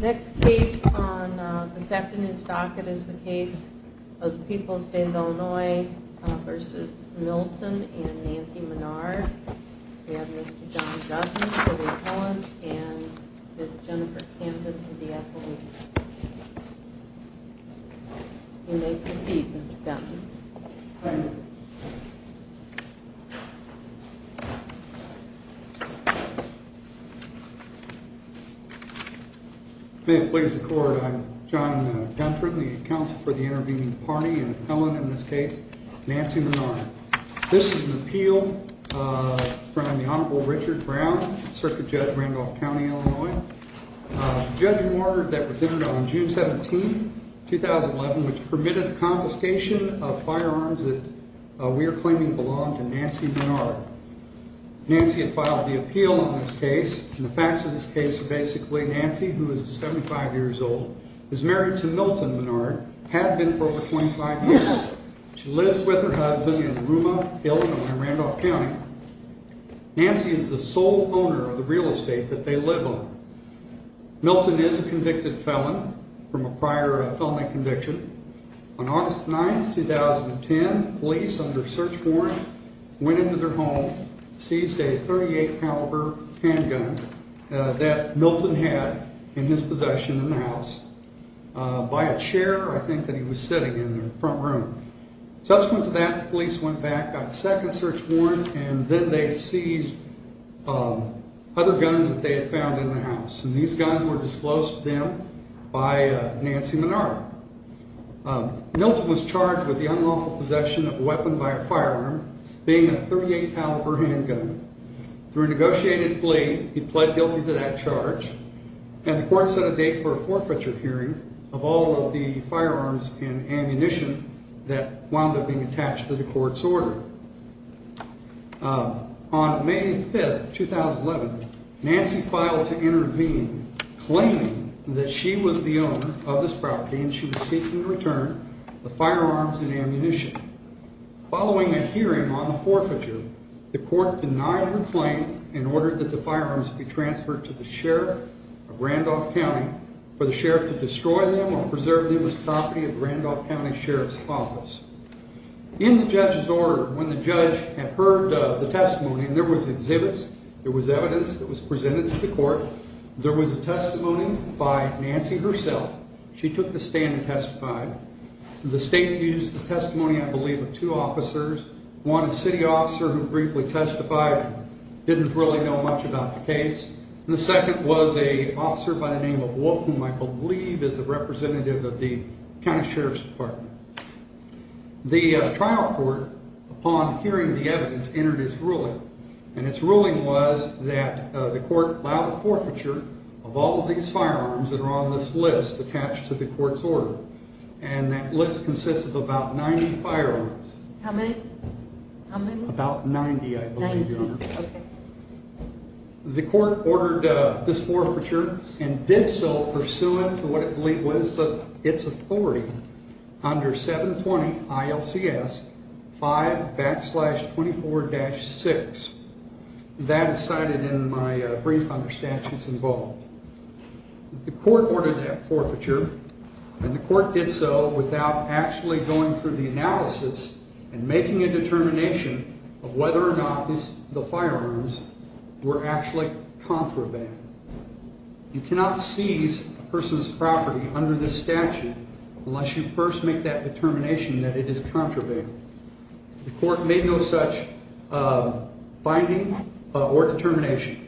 Next case on the second is docket is the case of People's State of Illinois v. Milton and Nancy Menard. We have Mr. John Dutton for the appellant and Ms. Jennifer Camden for the appellant. John Dutton May it please the court, I'm John Dutton, the counsel for the intervening party and appellant in this case, Nancy Menard. This is an appeal from the Honorable Richard Brown, Circuit Judge Randolph County, Illinois. The judge ordered that was entered on June 17, 2011, which permitted the confiscation of firearms that we are claiming belong to Nancy Menard. Nancy had filed the appeal on this case and the facts of this case are basically Nancy, who is 75 years old, is married to Milton Menard, had been for over 25 years. She lives with her husband in Ruma, Illinois, Randolph County. Nancy is the sole owner of the real estate that they live on. Milton is a convicted felon from a prior felony conviction. On August 9, 2010, police under search warrant went into their home, seized a .38 caliber handgun that Milton had in his possession in the house by a chair, I think, that he was sitting in the front room. Subsequent to that, police went back, got a second search warrant, and then they seized other guns that they had found in the house. These guns were disclosed to them by Nancy Menard. Milton was charged with the unlawful possession of a weapon by a firearm, being a .38 caliber handgun. Through a negotiated plea, he pled guilty to that charge, and the court set a date for a forfeiture hearing of all of the firearms and ammunition that wound up being attached to the court's order. On May 5, 2011, Nancy filed to intervene, claiming that she was the owner of this property and she was seeking return of the firearms and ammunition. Following a hearing on the forfeiture, the court denied her claim and ordered that the firearms be transferred to the sheriff of Randolph County for the sheriff to destroy them or preserve them as property of Randolph County Sheriff's Office. In the judge's order, when the judge had heard the testimony, and there was exhibits, there was evidence that was presented to the court, there was a testimony by Nancy herself. She took the stand and testified. The state used the testimony, I believe, of two officers, one a city officer who briefly testified, didn't really know much about the case, and the second was an officer by the name of Wolf, whom I believe is a representative of the County Sheriff's Department. The trial court, upon hearing the evidence, entered its ruling, and its ruling was that the court allow the forfeiture of all of these firearms that are on this list attached to the court's order, and that list consists of about 90 firearms. How many? About 90, I believe, Your Honor. Ninety, okay. The court ordered this forfeiture and did so pursuant to what I believe was its authority under 720 ILCS 5 backslash 24-6. That is cited in my brief under statutes involved. The court ordered that forfeiture, and the court did so without actually going through the analysis and making a determination of whether or not the firearms were actually contraband. You cannot seize a person's property under this statute unless you first make that determination that it is contraband. The court made no such finding or determination.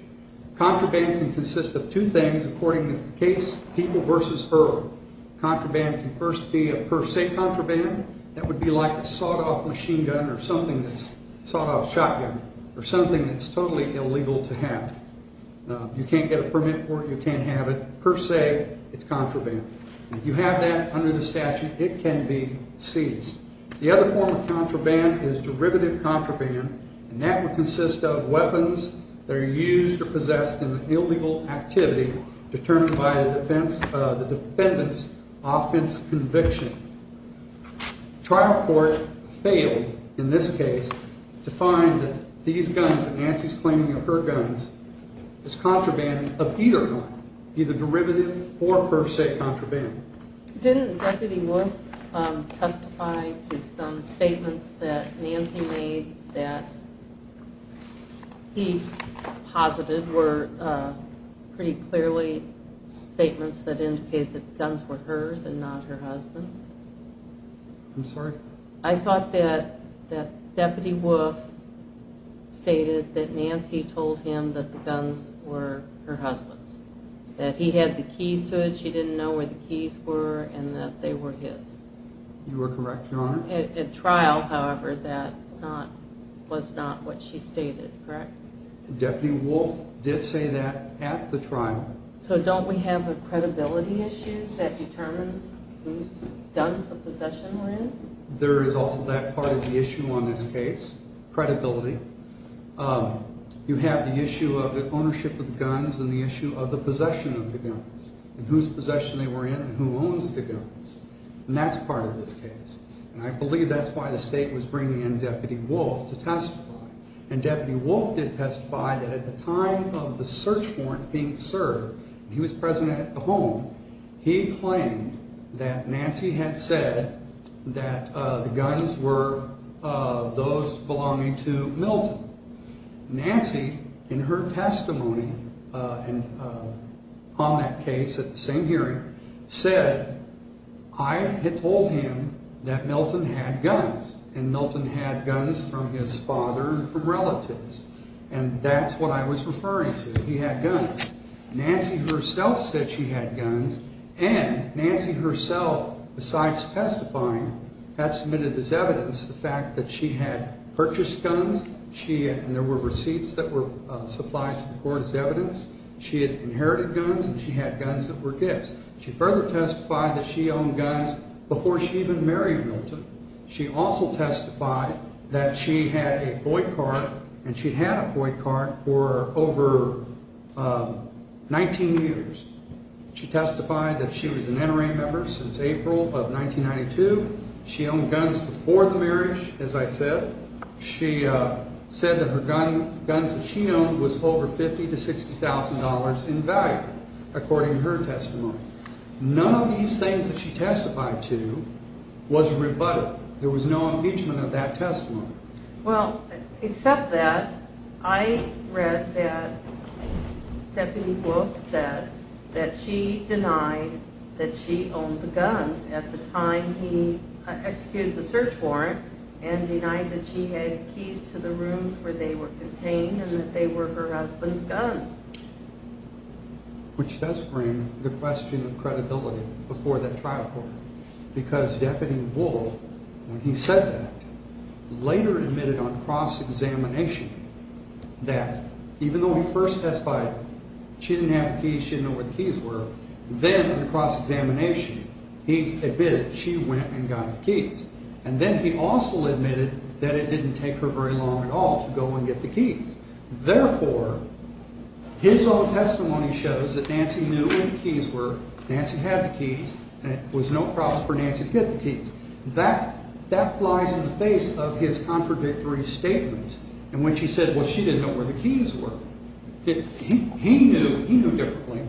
Contraband can consist of two things according to the case People v. Earl. Contraband can first be a per se contraband. That would be like a sawed-off machine gun or something that's totally illegal to have. You can't get a permit for it. You can't have it. Per se, it's contraband. If you have that under the statute, it can be seized. The other form of contraband is derivative contraband, and that would consist of weapons that are used or possessed in an illegal activity determined by the defendant's offense conviction. Trial court failed in this case to find that these guns that Nancy's claiming are her guns is contraband of either or not, either derivative or per se contraband. Didn't Deputy Wolf testify to some statements that Nancy made that he posited were pretty clearly statements that indicated that the guns were hers and not her husband's? I'm sorry? I thought that Deputy Wolf stated that Nancy told him that the guns were her husband's, that he had the keys to it. But she didn't know where the keys were and that they were his. You are correct, Your Honor. At trial, however, that was not what she stated, correct? Deputy Wolf did say that at the trial. So don't we have a credibility issue that determines whose guns the possession were in? There is also that part of the issue on this case, credibility. You have the issue of the ownership of the guns and the issue of the possession of the guns and whose possession they were in and who owns the guns. And that's part of this case. And I believe that's why the state was bringing in Deputy Wolf to testify. And Deputy Wolf did testify that at the time of the search warrant being served, he was present at the home, he claimed that Nancy had said that the guns were those belonging to Milton. Nancy, in her testimony on that case at the same hearing, said, I had told him that Milton had guns. And Milton had guns from his father and from relatives. And that's what I was referring to. He had guns. Nancy herself said she had guns. And Nancy herself, besides testifying, had submitted as evidence the fact that she had purchased guns. There were receipts that were supplied to the court as evidence. She had inherited guns and she had guns that were gifts. She further testified that she owned guns before she even married Milton. She also testified that she had a FOIA card and she'd had a FOIA card for over 19 years. She testified that she was an NRA member since April of 1992. She owned guns before the marriage, as I said. She said that her guns that she owned was over $50,000 to $60,000 in value, according to her testimony. None of these things that she testified to was rebutted. There was no impeachment of that testimony. Well, except that, I read that Deputy Wolf said that she denied that she owned the guns at the time he executed the search warrant and denied that she had keys to the rooms where they were contained and that they were her husband's guns. Which does bring the question of credibility before that trial court. Because Deputy Wolf, when he said that, later admitted on cross-examination that even though he first testified she didn't have the keys, she didn't know where the keys were, then in the cross-examination he admitted she went and got the keys. And then he also admitted that it didn't take her very long at all to go and get the keys. Therefore, his own testimony shows that Nancy knew where the keys were, Nancy had the keys, and it was no problem for Nancy to get the keys. That flies in the face of his contradictory statement in which he said, well, she didn't know where the keys were. He knew, he knew differently.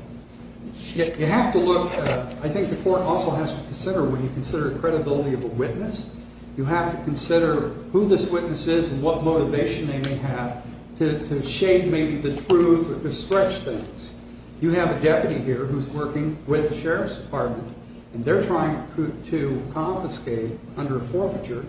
You have to look, I think the court also has to consider, when you consider credibility of a witness, you have to consider who this witness is and what motivation they may have to shade maybe the truth or to stretch things. You have a deputy here who's working with the Sheriff's Department and they're trying to confiscate under forfeiture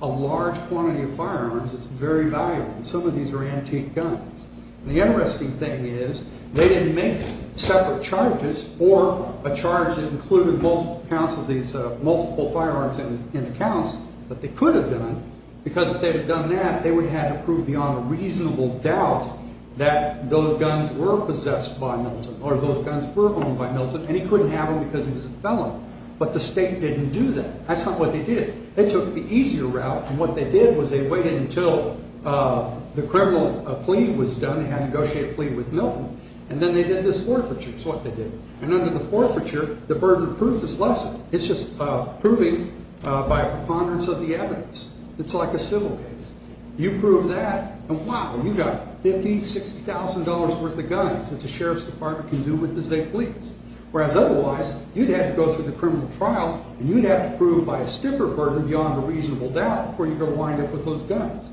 a large quantity of firearms that's very valuable. Some of these are antique guns. The interesting thing is they didn't make separate charges for a charge that included multiple counts of these, multiple firearms in the counts, but they could have done because if they had done that, they would have had to prove beyond a reasonable doubt that those guns were possessed by Milton or those guns were owned by Milton and he couldn't have them because he was a felon. But the state didn't do that. That's not what they did. They took the easier route and what they did was they waited until the criminal plea was done, they had to negotiate a plea with Milton, and then they did this forfeiture is what they did. And under the forfeiture, the burden of proof is lesser. It's just proving by preponderance of the evidence. It's like a civil case. You prove that and wow, you got $50,000, $60,000 worth of guns that the Sheriff's Department can do with as they please. Whereas otherwise, you'd have to go through the criminal trial and you'd have to prove by a stiffer burden beyond a reasonable doubt before you could wind up with those guns.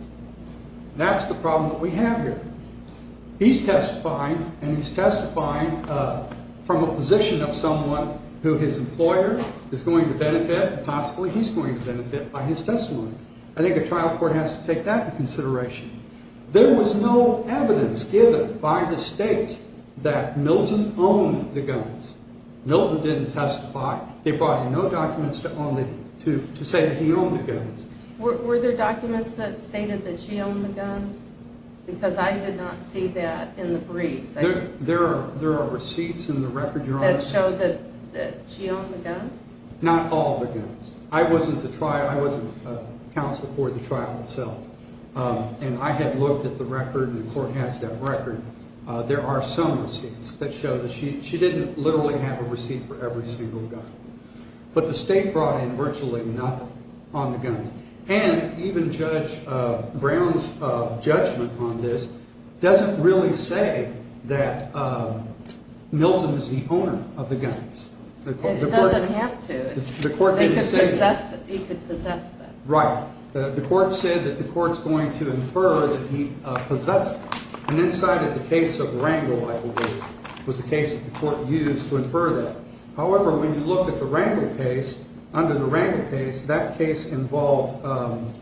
That's the problem that we have here. He's testifying and he's testifying from a position of someone who his employer is going to benefit and possibly he's going to benefit by his testimony. I think a trial court has to take that into consideration. There was no evidence given by the state that Milton owned the guns. Milton didn't testify. They brought in no documents to say that he owned the guns. Were there documents that stated that she owned the guns? Because I did not see that in the briefs. There are receipts in the record. That show that she owned the guns? Not all the guns. I wasn't a counsel for the trial itself. And I had looked at the record and the court has that record. There are some receipts that show that she didn't literally have a receipt for every single gun. But the state brought in virtually nothing on the guns. And even Judge Brown's judgment on this doesn't really say that Milton is the owner of the guns. It doesn't have to. He could possess them. Right. The court said that the court is going to infer that he possessed them. And inside of the case of Rangel, I believe, was a case that the court used to infer that. However, when you look at the Rangel case, under the Rangel case, that case involved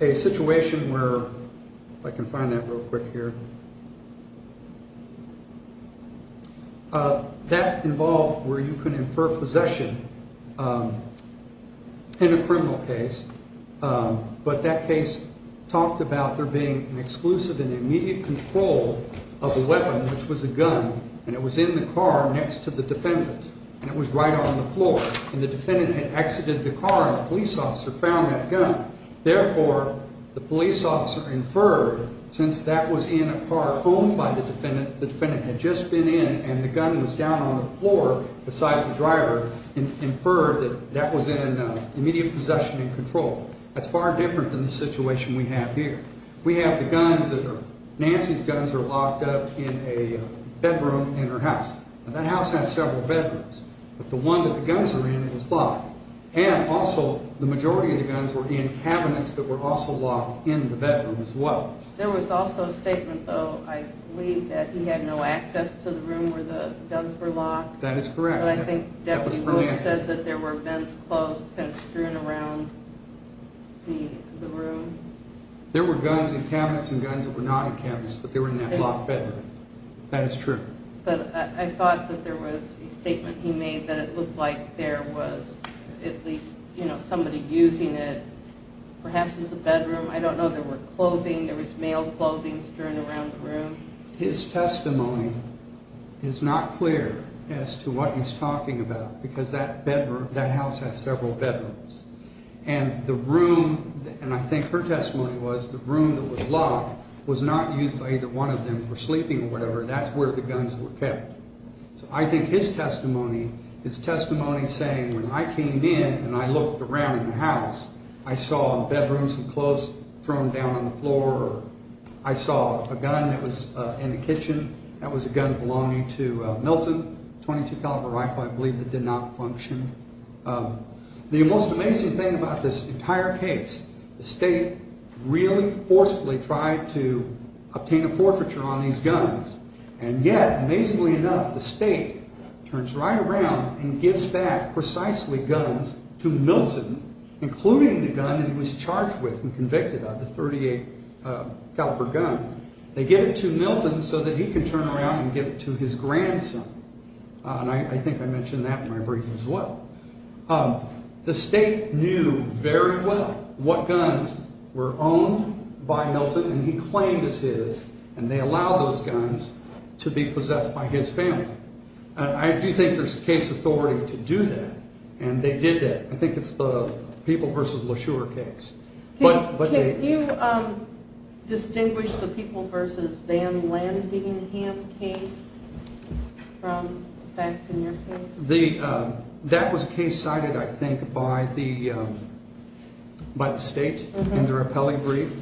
a situation where, if I can find that real quick here, that involved where you can infer possession in a criminal case. But that case talked about there being an exclusive and immediate control of a weapon, which was a gun. And it was in the car next to the defendant. And it was right on the floor. And the defendant had exited the car and the police officer found that gun. Therefore, the police officer inferred, since that was in a car owned by the defendant, the defendant had just been in, and the gun was down on the floor besides the driver, inferred that that was in immediate possession and control. That's far different than the situation we have here. We have the guns that are ñ Nancy's guns are locked up in a bedroom in her house. And that house has several bedrooms. But the one that the guns are in is locked. And also, the majority of the guns were in cabinets that were also locked in the bedroom as well. There was also a statement, though, I believe, that he had no access to the room where the guns were locked. That is correct. But I think Deputy Rose said that there were vents closed and strewn around the room. There were guns in cabinets and guns that were not in cabinets, but they were in that locked bedroom. That is true. But I thought that there was a statement he made that it looked like there was at least somebody using it perhaps as a bedroom. I don't know. There were clothing. There was male clothing strewn around the room. His testimony is not clear as to what he's talking about because that bedroom, that house has several bedrooms. And the room, and I think her testimony was the room that was locked, was not used by either one of them for sleeping or whatever. That's where the guns were kept. So I think his testimony is testimony saying when I came in and I looked around in the house, I saw bedrooms and clothes thrown down on the floor. I saw a gun that was in the kitchen. That was a gun belonging to Milton, a .22 caliber rifle, I believe, that did not function. The most amazing thing about this entire case, the state really forcefully tried to obtain a forfeiture on these guns. And yet, amazingly enough, the state turns right around and gives back precisely guns to Milton, including the gun that he was charged with and convicted of, the .38 caliber gun. They give it to Milton so that he can turn around and give it to his grandson. And I think I mentioned that in my brief as well. The state knew very well what guns were owned by Milton, and he claimed it's his, and they allowed those guns to be possessed by his family. And I do think there's case authority to do that, and they did that. I think it's the People v. LaSure case. Can you distinguish the People v. Van Landingham case from the facts in your case? That was a case cited, I think, by the state in their appellee brief.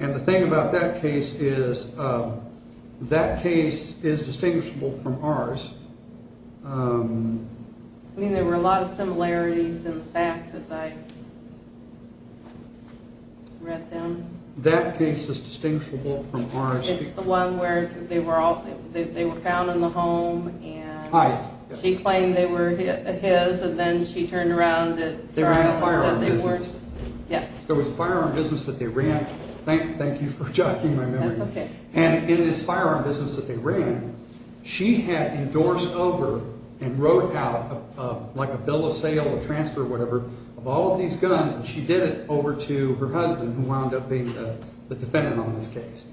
And the thing about that case is that case is distinguishable from ours. I mean, there were a lot of similarities in the facts as I read them. That case is distinguishable from ours. It's the one where they were found in the home, and she claimed they were his, and then she turned around and said they weren't. They were in a firearm business. Yes. There was a firearm business that they ran. Thank you for jogging my memory. That's okay. And in this firearm business that they ran, she had endorsed over and wrote out, like a bill of sale, a transfer, whatever, of all of these guns, and she did it over to her husband, who wound up being the defendant on this case.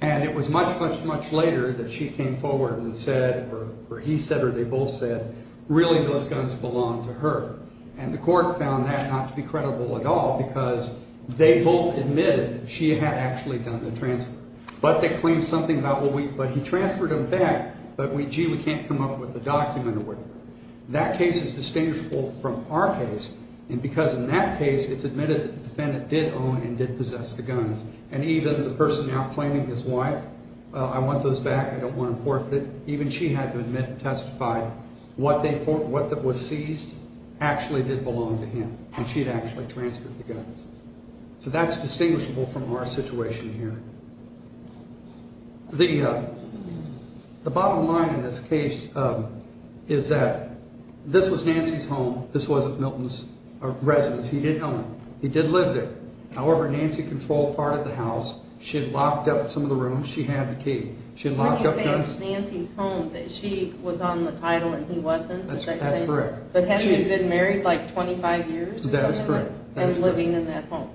And it was much, much, much later that she came forward and said, or he said or they both said, really those guns belonged to her. And the court found that not to be credible at all because they both admitted that she had actually done the transfer. But they claimed something about, well, he transferred them back, but, gee, we can't come up with a document or whatever. That case is distinguishable from our case because, in that case, it's admitted that the defendant did own and did possess the guns. And even the person now claiming his wife, I want those back. I don't want to forfeit. Even she had to admit and testify what was seized actually did belong to him, and she had actually transferred the guns. So that's distinguishable from our situation here. The bottom line in this case is that this was Nancy's home. This wasn't Milton's residence. He did own it. He did live there. However, Nancy controlled part of the house. She had locked up some of the rooms. She had the key. She had locked up guns. When you say it's Nancy's home, that she was on the title and he wasn't? That's correct. But had she been married like 25 years? That is correct. And living in that home?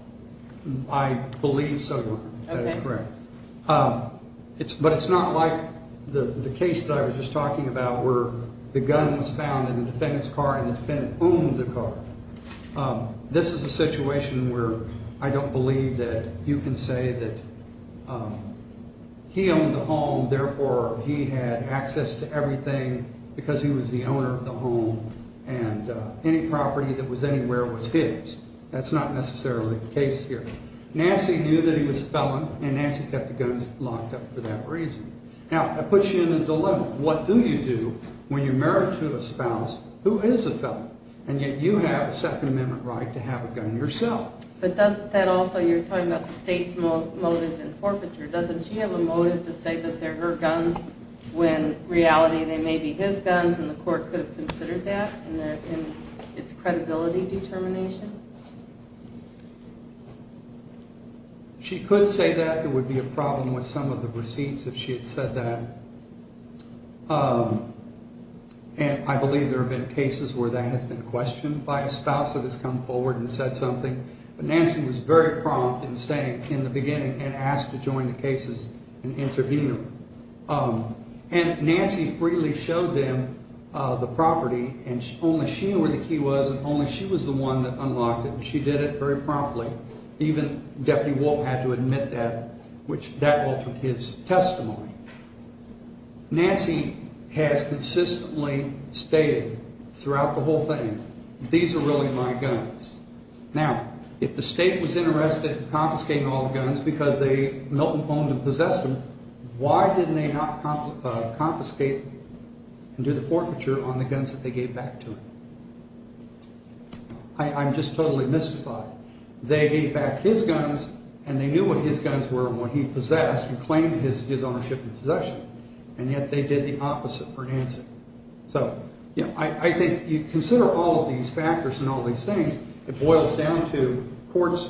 I believe so. That is correct. But it's not like the case that I was just talking about where the gun was found in the defendant's car and the defendant owned the car. This is a situation where I don't believe that you can say that he owned the home, therefore he had access to everything because he was the owner of the home and any property that was anywhere was his. That's not necessarily the case here. Nancy knew that he was a felon, and Nancy kept the guns locked up for that reason. Now, that puts you in a dilemma. What do you do when you're married to a spouse who is a felon, and yet you have a Second Amendment right to have a gun yourself? But doesn't that also, you're talking about the state's motive in forfeiture. Doesn't she have a motive to say that they're her guns when in reality they may be his guns and the court could have considered that in its credibility determination? She could say that. There would be a problem with some of the receipts if she had said that. And I believe there have been cases where that has been questioned by a spouse that has come forward and said something. But Nancy was very prompt in saying in the beginning and asked to join the case as an intervener. And Nancy freely showed them the property, and only she knew where the key was, and only she was the one that unlocked it, and she did it very promptly. Even Deputy Wolf had to admit that, which that altered his testimony. Nancy has consistently stated throughout the whole thing, these are really my guns. Now, if the state was interested in confiscating all the guns because Milton owned and possessed them, why didn't they not confiscate and do the forfeiture on the guns that they gave back to him? I'm just totally mystified. They gave back his guns, and they knew what his guns were and what he possessed and claimed his ownership and possession, and yet they did the opposite for Nancy. So, you know, I think you consider all of these factors and all these things, it boils down to courts,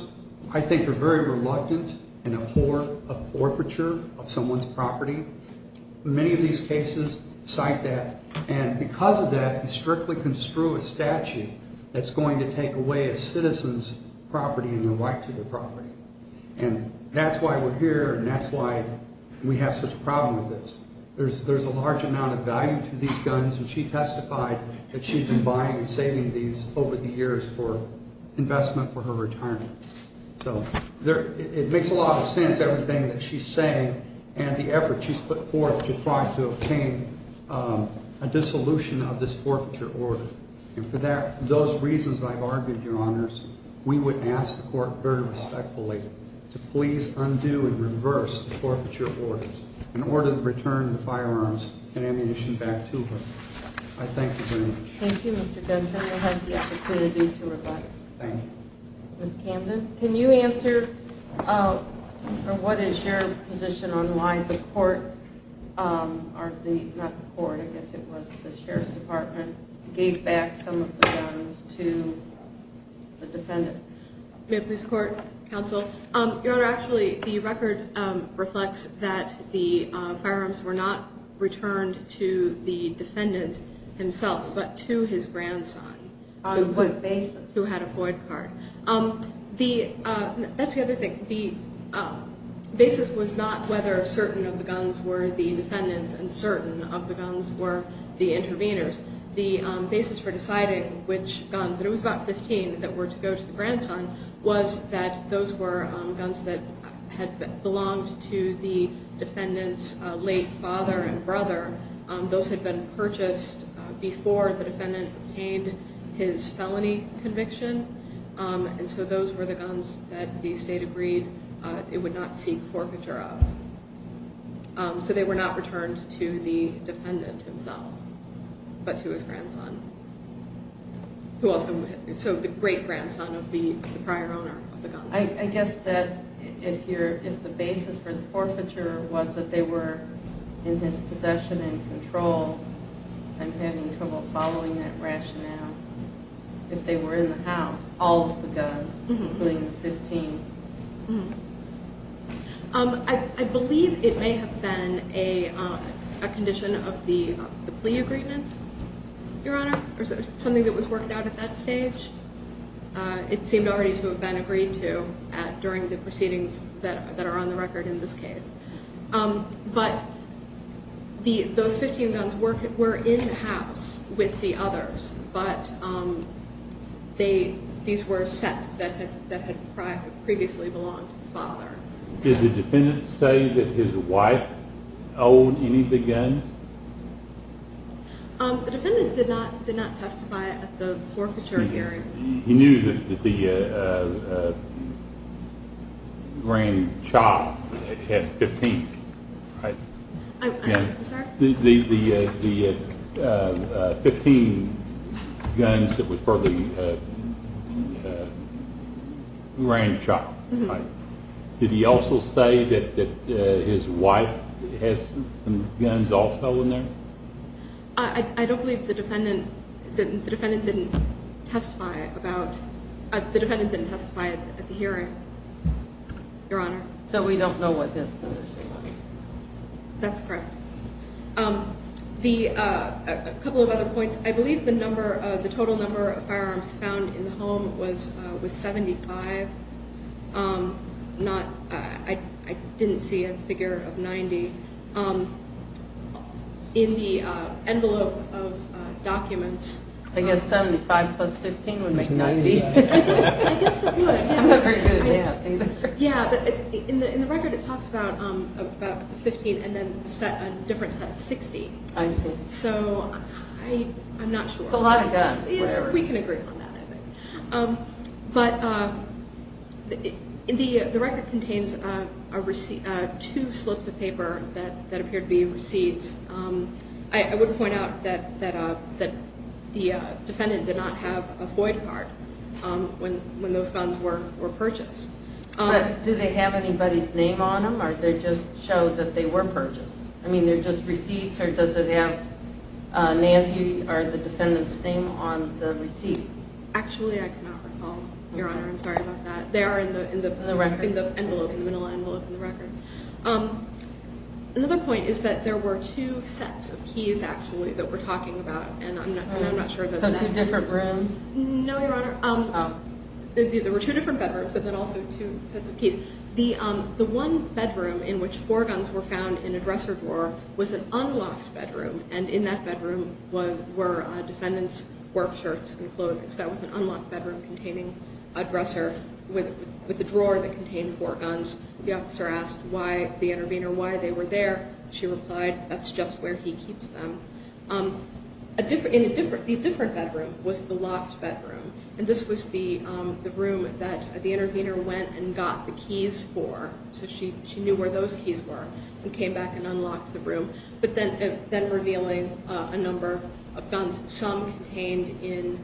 I think, are very reluctant and abhor a forfeiture of someone's property. Many of these cases cite that. And because of that, you strictly construe a statute that's going to take away a citizen's property and their right to their property. And that's why we're here, and that's why we have such a problem with this. There's a large amount of value to these guns, and she testified that she'd been buying and saving these over the years for investment for her retirement. So it makes a lot of sense, everything that she's saying, and the effort she's put forth to try to obtain a dissolution of this forfeiture order. And for those reasons I've argued, Your Honors, we would ask the court very respectfully to please undo and reverse the forfeiture orders and order the return of the firearms and ammunition back to her. I thank you very much. Thank you, Mr. Dunton. You'll have the opportunity to reply. Thank you. Ms. Camden, can you answer, or what is your position on why the court, or the, not the court, I guess it was the Sheriff's Department, gave back some of the guns to the defendant? Ma'am, police, court, counsel. Your Honor, actually the record reflects that the firearms were not returned to the defendant himself, but to his grandson. On what basis? Who had a Floyd card. That's the other thing. The basis was not whether certain of the guns were the defendant's and certain of the guns were the intervener's. The basis for deciding which guns, and it was about 15 that were to go to the grandson, was that those were guns that had belonged to the defendant's late father and brother. Those had been purchased before the defendant obtained his felony conviction, and so those were the guns that the state agreed it would not seek forfeiture of. So they were not returned to the defendant himself, but to his grandson, who also, so the great-grandson of the prior owner of the guns. I guess that if the basis for the forfeiture was that they were in his possession and control, I'm having trouble following that rationale. If they were in the house, all of the guns, including the 15. I believe it may have been a condition of the plea agreement, Your Honor, or something that was worked out at that stage. It seemed already to have been agreed to during the proceedings that are on the record in this case. But those 15 guns were in the house with the others, but these were sets that had previously belonged to the father. Did the defendant say that his wife owned any of the guns? The defendant did not testify at the forfeiture hearing. He knew that the grandchild had 15, right? I'm sorry? The 15 guns that were for the grandchild, right? Did he also say that his wife had some guns also in there? I don't believe the defendant didn't testify at the hearing, Your Honor. So we don't know what his position was? That's correct. A couple of other points. I believe the total number of firearms found in the home was 75. I didn't see a figure of 90 in the envelope of documents. I guess 75 plus 15 would make 90. I guess it would. Yeah, but in the record it talks about 15 and then a different set of 60. I see. So I'm not sure. It's a lot of guns. We can agree on that, I think. But the record contains two slips of paper that appear to be receipts. I would point out that the defendant did not have a FOIA card when those guns were purchased. But do they have anybody's name on them, or did it just show that they were purchased? I mean, they're just receipts, or does it have Nancy or the defendant's name on the receipt? Actually, I cannot recall, Your Honor. I'm sorry about that. They are in the envelope, in the middle envelope in the record. Another point is that there were two sets of keys, actually, that we're talking about. So two different rooms? No, Your Honor. Oh. There were two different bedrooms and then also two sets of keys. The one bedroom in which four guns were found in a dresser drawer was an unlocked bedroom, and in that bedroom were defendants' work shirts and clothes. That was an unlocked bedroom containing a dresser with a drawer that contained four guns. The officer asked the intervener why they were there. She replied, that's just where he keeps them. The different bedroom was the locked bedroom, and this was the room that the intervener went and got the keys for. So she knew where those keys were and came back and unlocked the room, but then revealing a number of guns, some contained in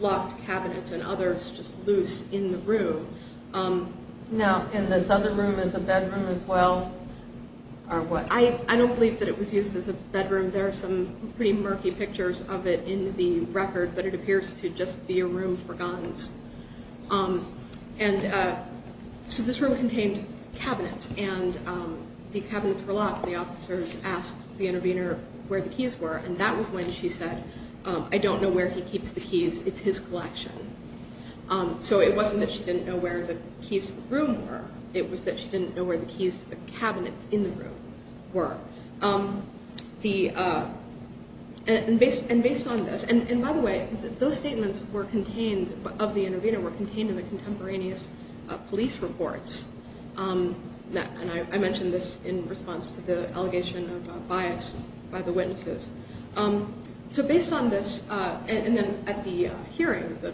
locked cabinets and others just loose in the room. Now, and this other room is a bedroom as well? I don't believe that it was used as a bedroom. There are some pretty murky pictures of it in the record, but it appears to just be a room for guns. So this room contained cabinets, and the cabinets were locked. The officers asked the intervener where the keys were, and that was when she said, I don't know where he keeps the keys. It's his collection. So it wasn't that she didn't know where the keys to the room were. It was that she didn't know where the keys to the cabinets in the room were. And based on this, and by the way, those statements were contained, of the intervener, were contained in the contemporaneous police reports. And I mentioned this in response to the allegation of bias by the witnesses. So based on this, and then at the hearing, the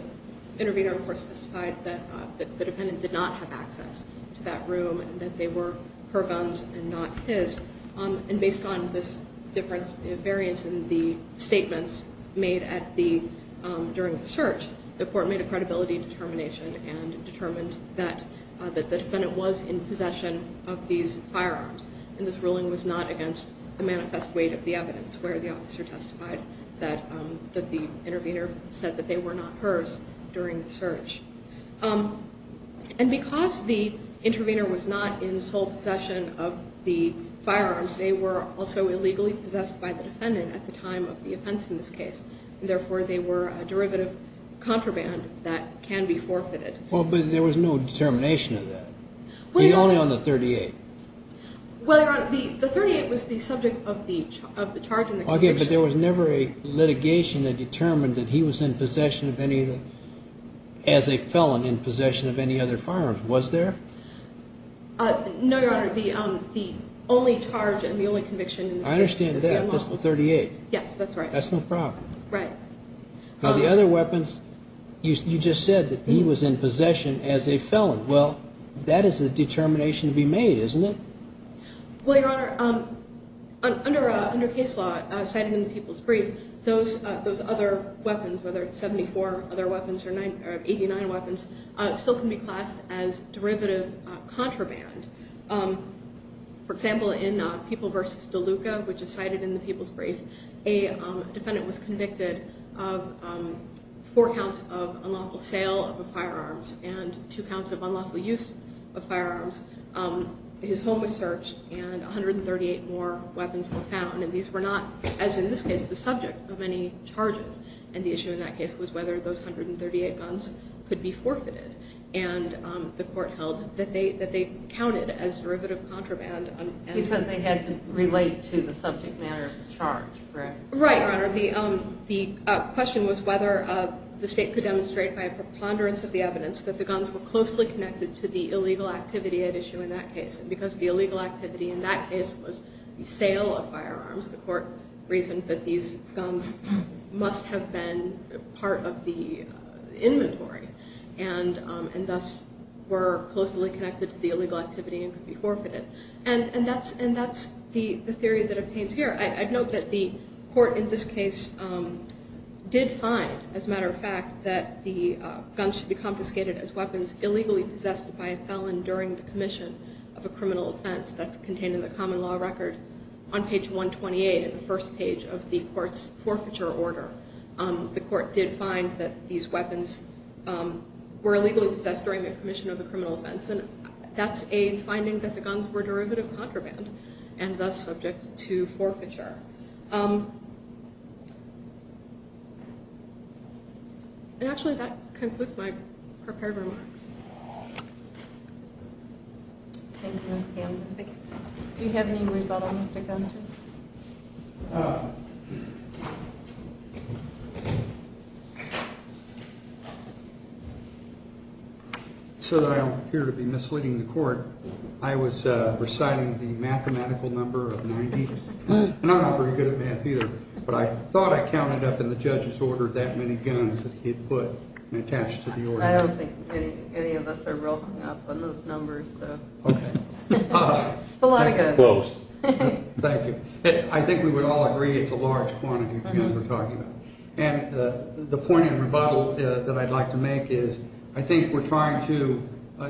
intervener, of course, testified that the defendant did not have access to that room, and that they were her guns and not his. And based on this difference, the variance in the statements made during the search, the court made a credibility determination and determined that the defendant was in possession of these firearms, and this ruling was not against the manifest weight of the evidence, where the officer testified that the intervener said that they were not hers during the search. And because the intervener was not in sole possession of the firearms, they were also illegally possessed by the defendant at the time of the offense in this case, and therefore they were a derivative contraband that can be forfeited. Well, but there was no determination of that. The only on the 38. Well, Your Honor, the 38 was the subject of the charge and the conviction. Okay, but there was never a litigation that determined that he was in possession of any of the, as a felon, in possession of any other firearms, was there? No, Your Honor, the only charge and the only conviction in this case was the unlawful. I understand that, just the 38. Yes, that's right. That's no problem. Right. Now, the other weapons, you just said that he was in possession as a felon. Well, that is a determination to be made, isn't it? Well, Your Honor, under case law, cited in the People's Brief, those other weapons, whether it's 74 other weapons or 89 weapons, still can be classed as derivative contraband. For example, in People v. DeLuca, which is cited in the People's Brief, a defendant was convicted of four counts of unlawful sale of the firearms and two counts of unlawful use of firearms. His home was searched and 138 more weapons were found. And these were not, as in this case, the subject of any charges. And the issue in that case was whether those 138 guns could be forfeited. And the court held that they counted as derivative contraband. Because they had to relate to the subject matter of the charge, correct? Right, Your Honor. The question was whether the state could demonstrate by a preponderance of the evidence that the guns were closely connected to the illegal activity at issue in that case. And because the illegal activity in that case was the sale of firearms, the court reasoned that these guns must have been part of the inventory and thus were closely connected to the illegal activity and could be forfeited. And that's the theory that obtains here. I'd note that the court in this case did find, as a matter of fact, that the guns should be confiscated as weapons illegally possessed by a felon during the commission of a criminal offense. That's contained in the common law record on page 128 in the first page of the court's forfeiture order. The court did find that these weapons were illegally possessed during the commission of the criminal offense. And that's a finding that the guns were derivative contraband and thus subject to forfeiture. Actually, that concludes my prepared remarks. Thank you, Ms. Campbell. Do you have any rebuttal, Mr. Gunter? So that I don't appear to be misleading the court, I was reciting the mathematical number of 90. And I'm not very good at math either, but I thought I counted up in the judge's order that many guns that he had put and attached to the order. I don't think any of us are rolling up on those numbers. Okay. It's a lot of guns. Close. Thank you. I think we would all agree it's a large quantity of guns we're talking about. And the point and rebuttal that I'd like to make is I think we're trying to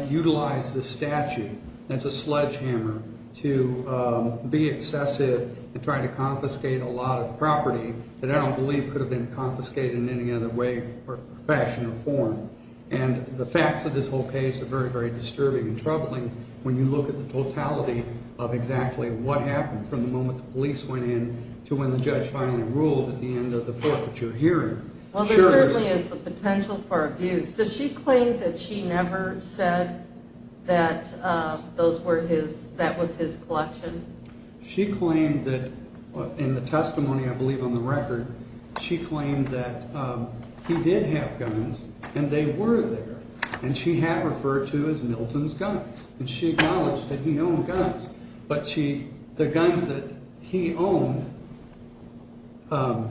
use a machine that's a sledgehammer to be excessive and try to confiscate a lot of property that I don't believe could have been confiscated in any other way or fashion or form. And the facts of this whole case are very, very disturbing and troubling when you look at the totality of exactly what happened from the moment the police went in to when the judge finally ruled at the end of the forfeiture hearing. Well, there certainly is the potential for abuse. Does she claim that she never said that that was his collection? She claimed that in the testimony, I believe, on the record, she claimed that he did have guns and they were there. And she had referred to as Milton's guns. And she acknowledged that he owned guns. But the guns that he owned, I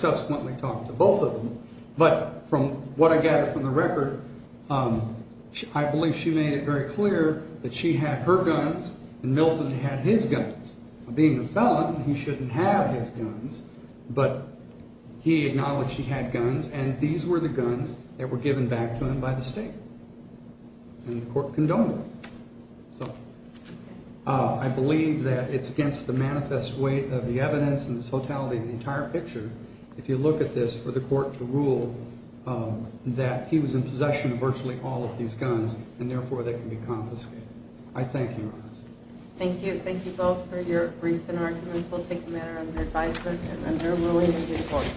subsequently talked to both of them. But from what I gathered from the record, I believe she made it very clear that she had her guns and Milton had his guns. Being a felon, he shouldn't have his guns, but he acknowledged he had guns and these were the guns that were given back to him by the state. And the court condoned it. So I believe that it's against the manifest weight of the evidence and the entire picture. If you look at this for the court to rule that he was in possession of virtually all of these guns and therefore they can be confiscated. I thank you. Thank you. Thank you both for your briefs and arguments. We'll take a matter under advisement and render a ruling in the court.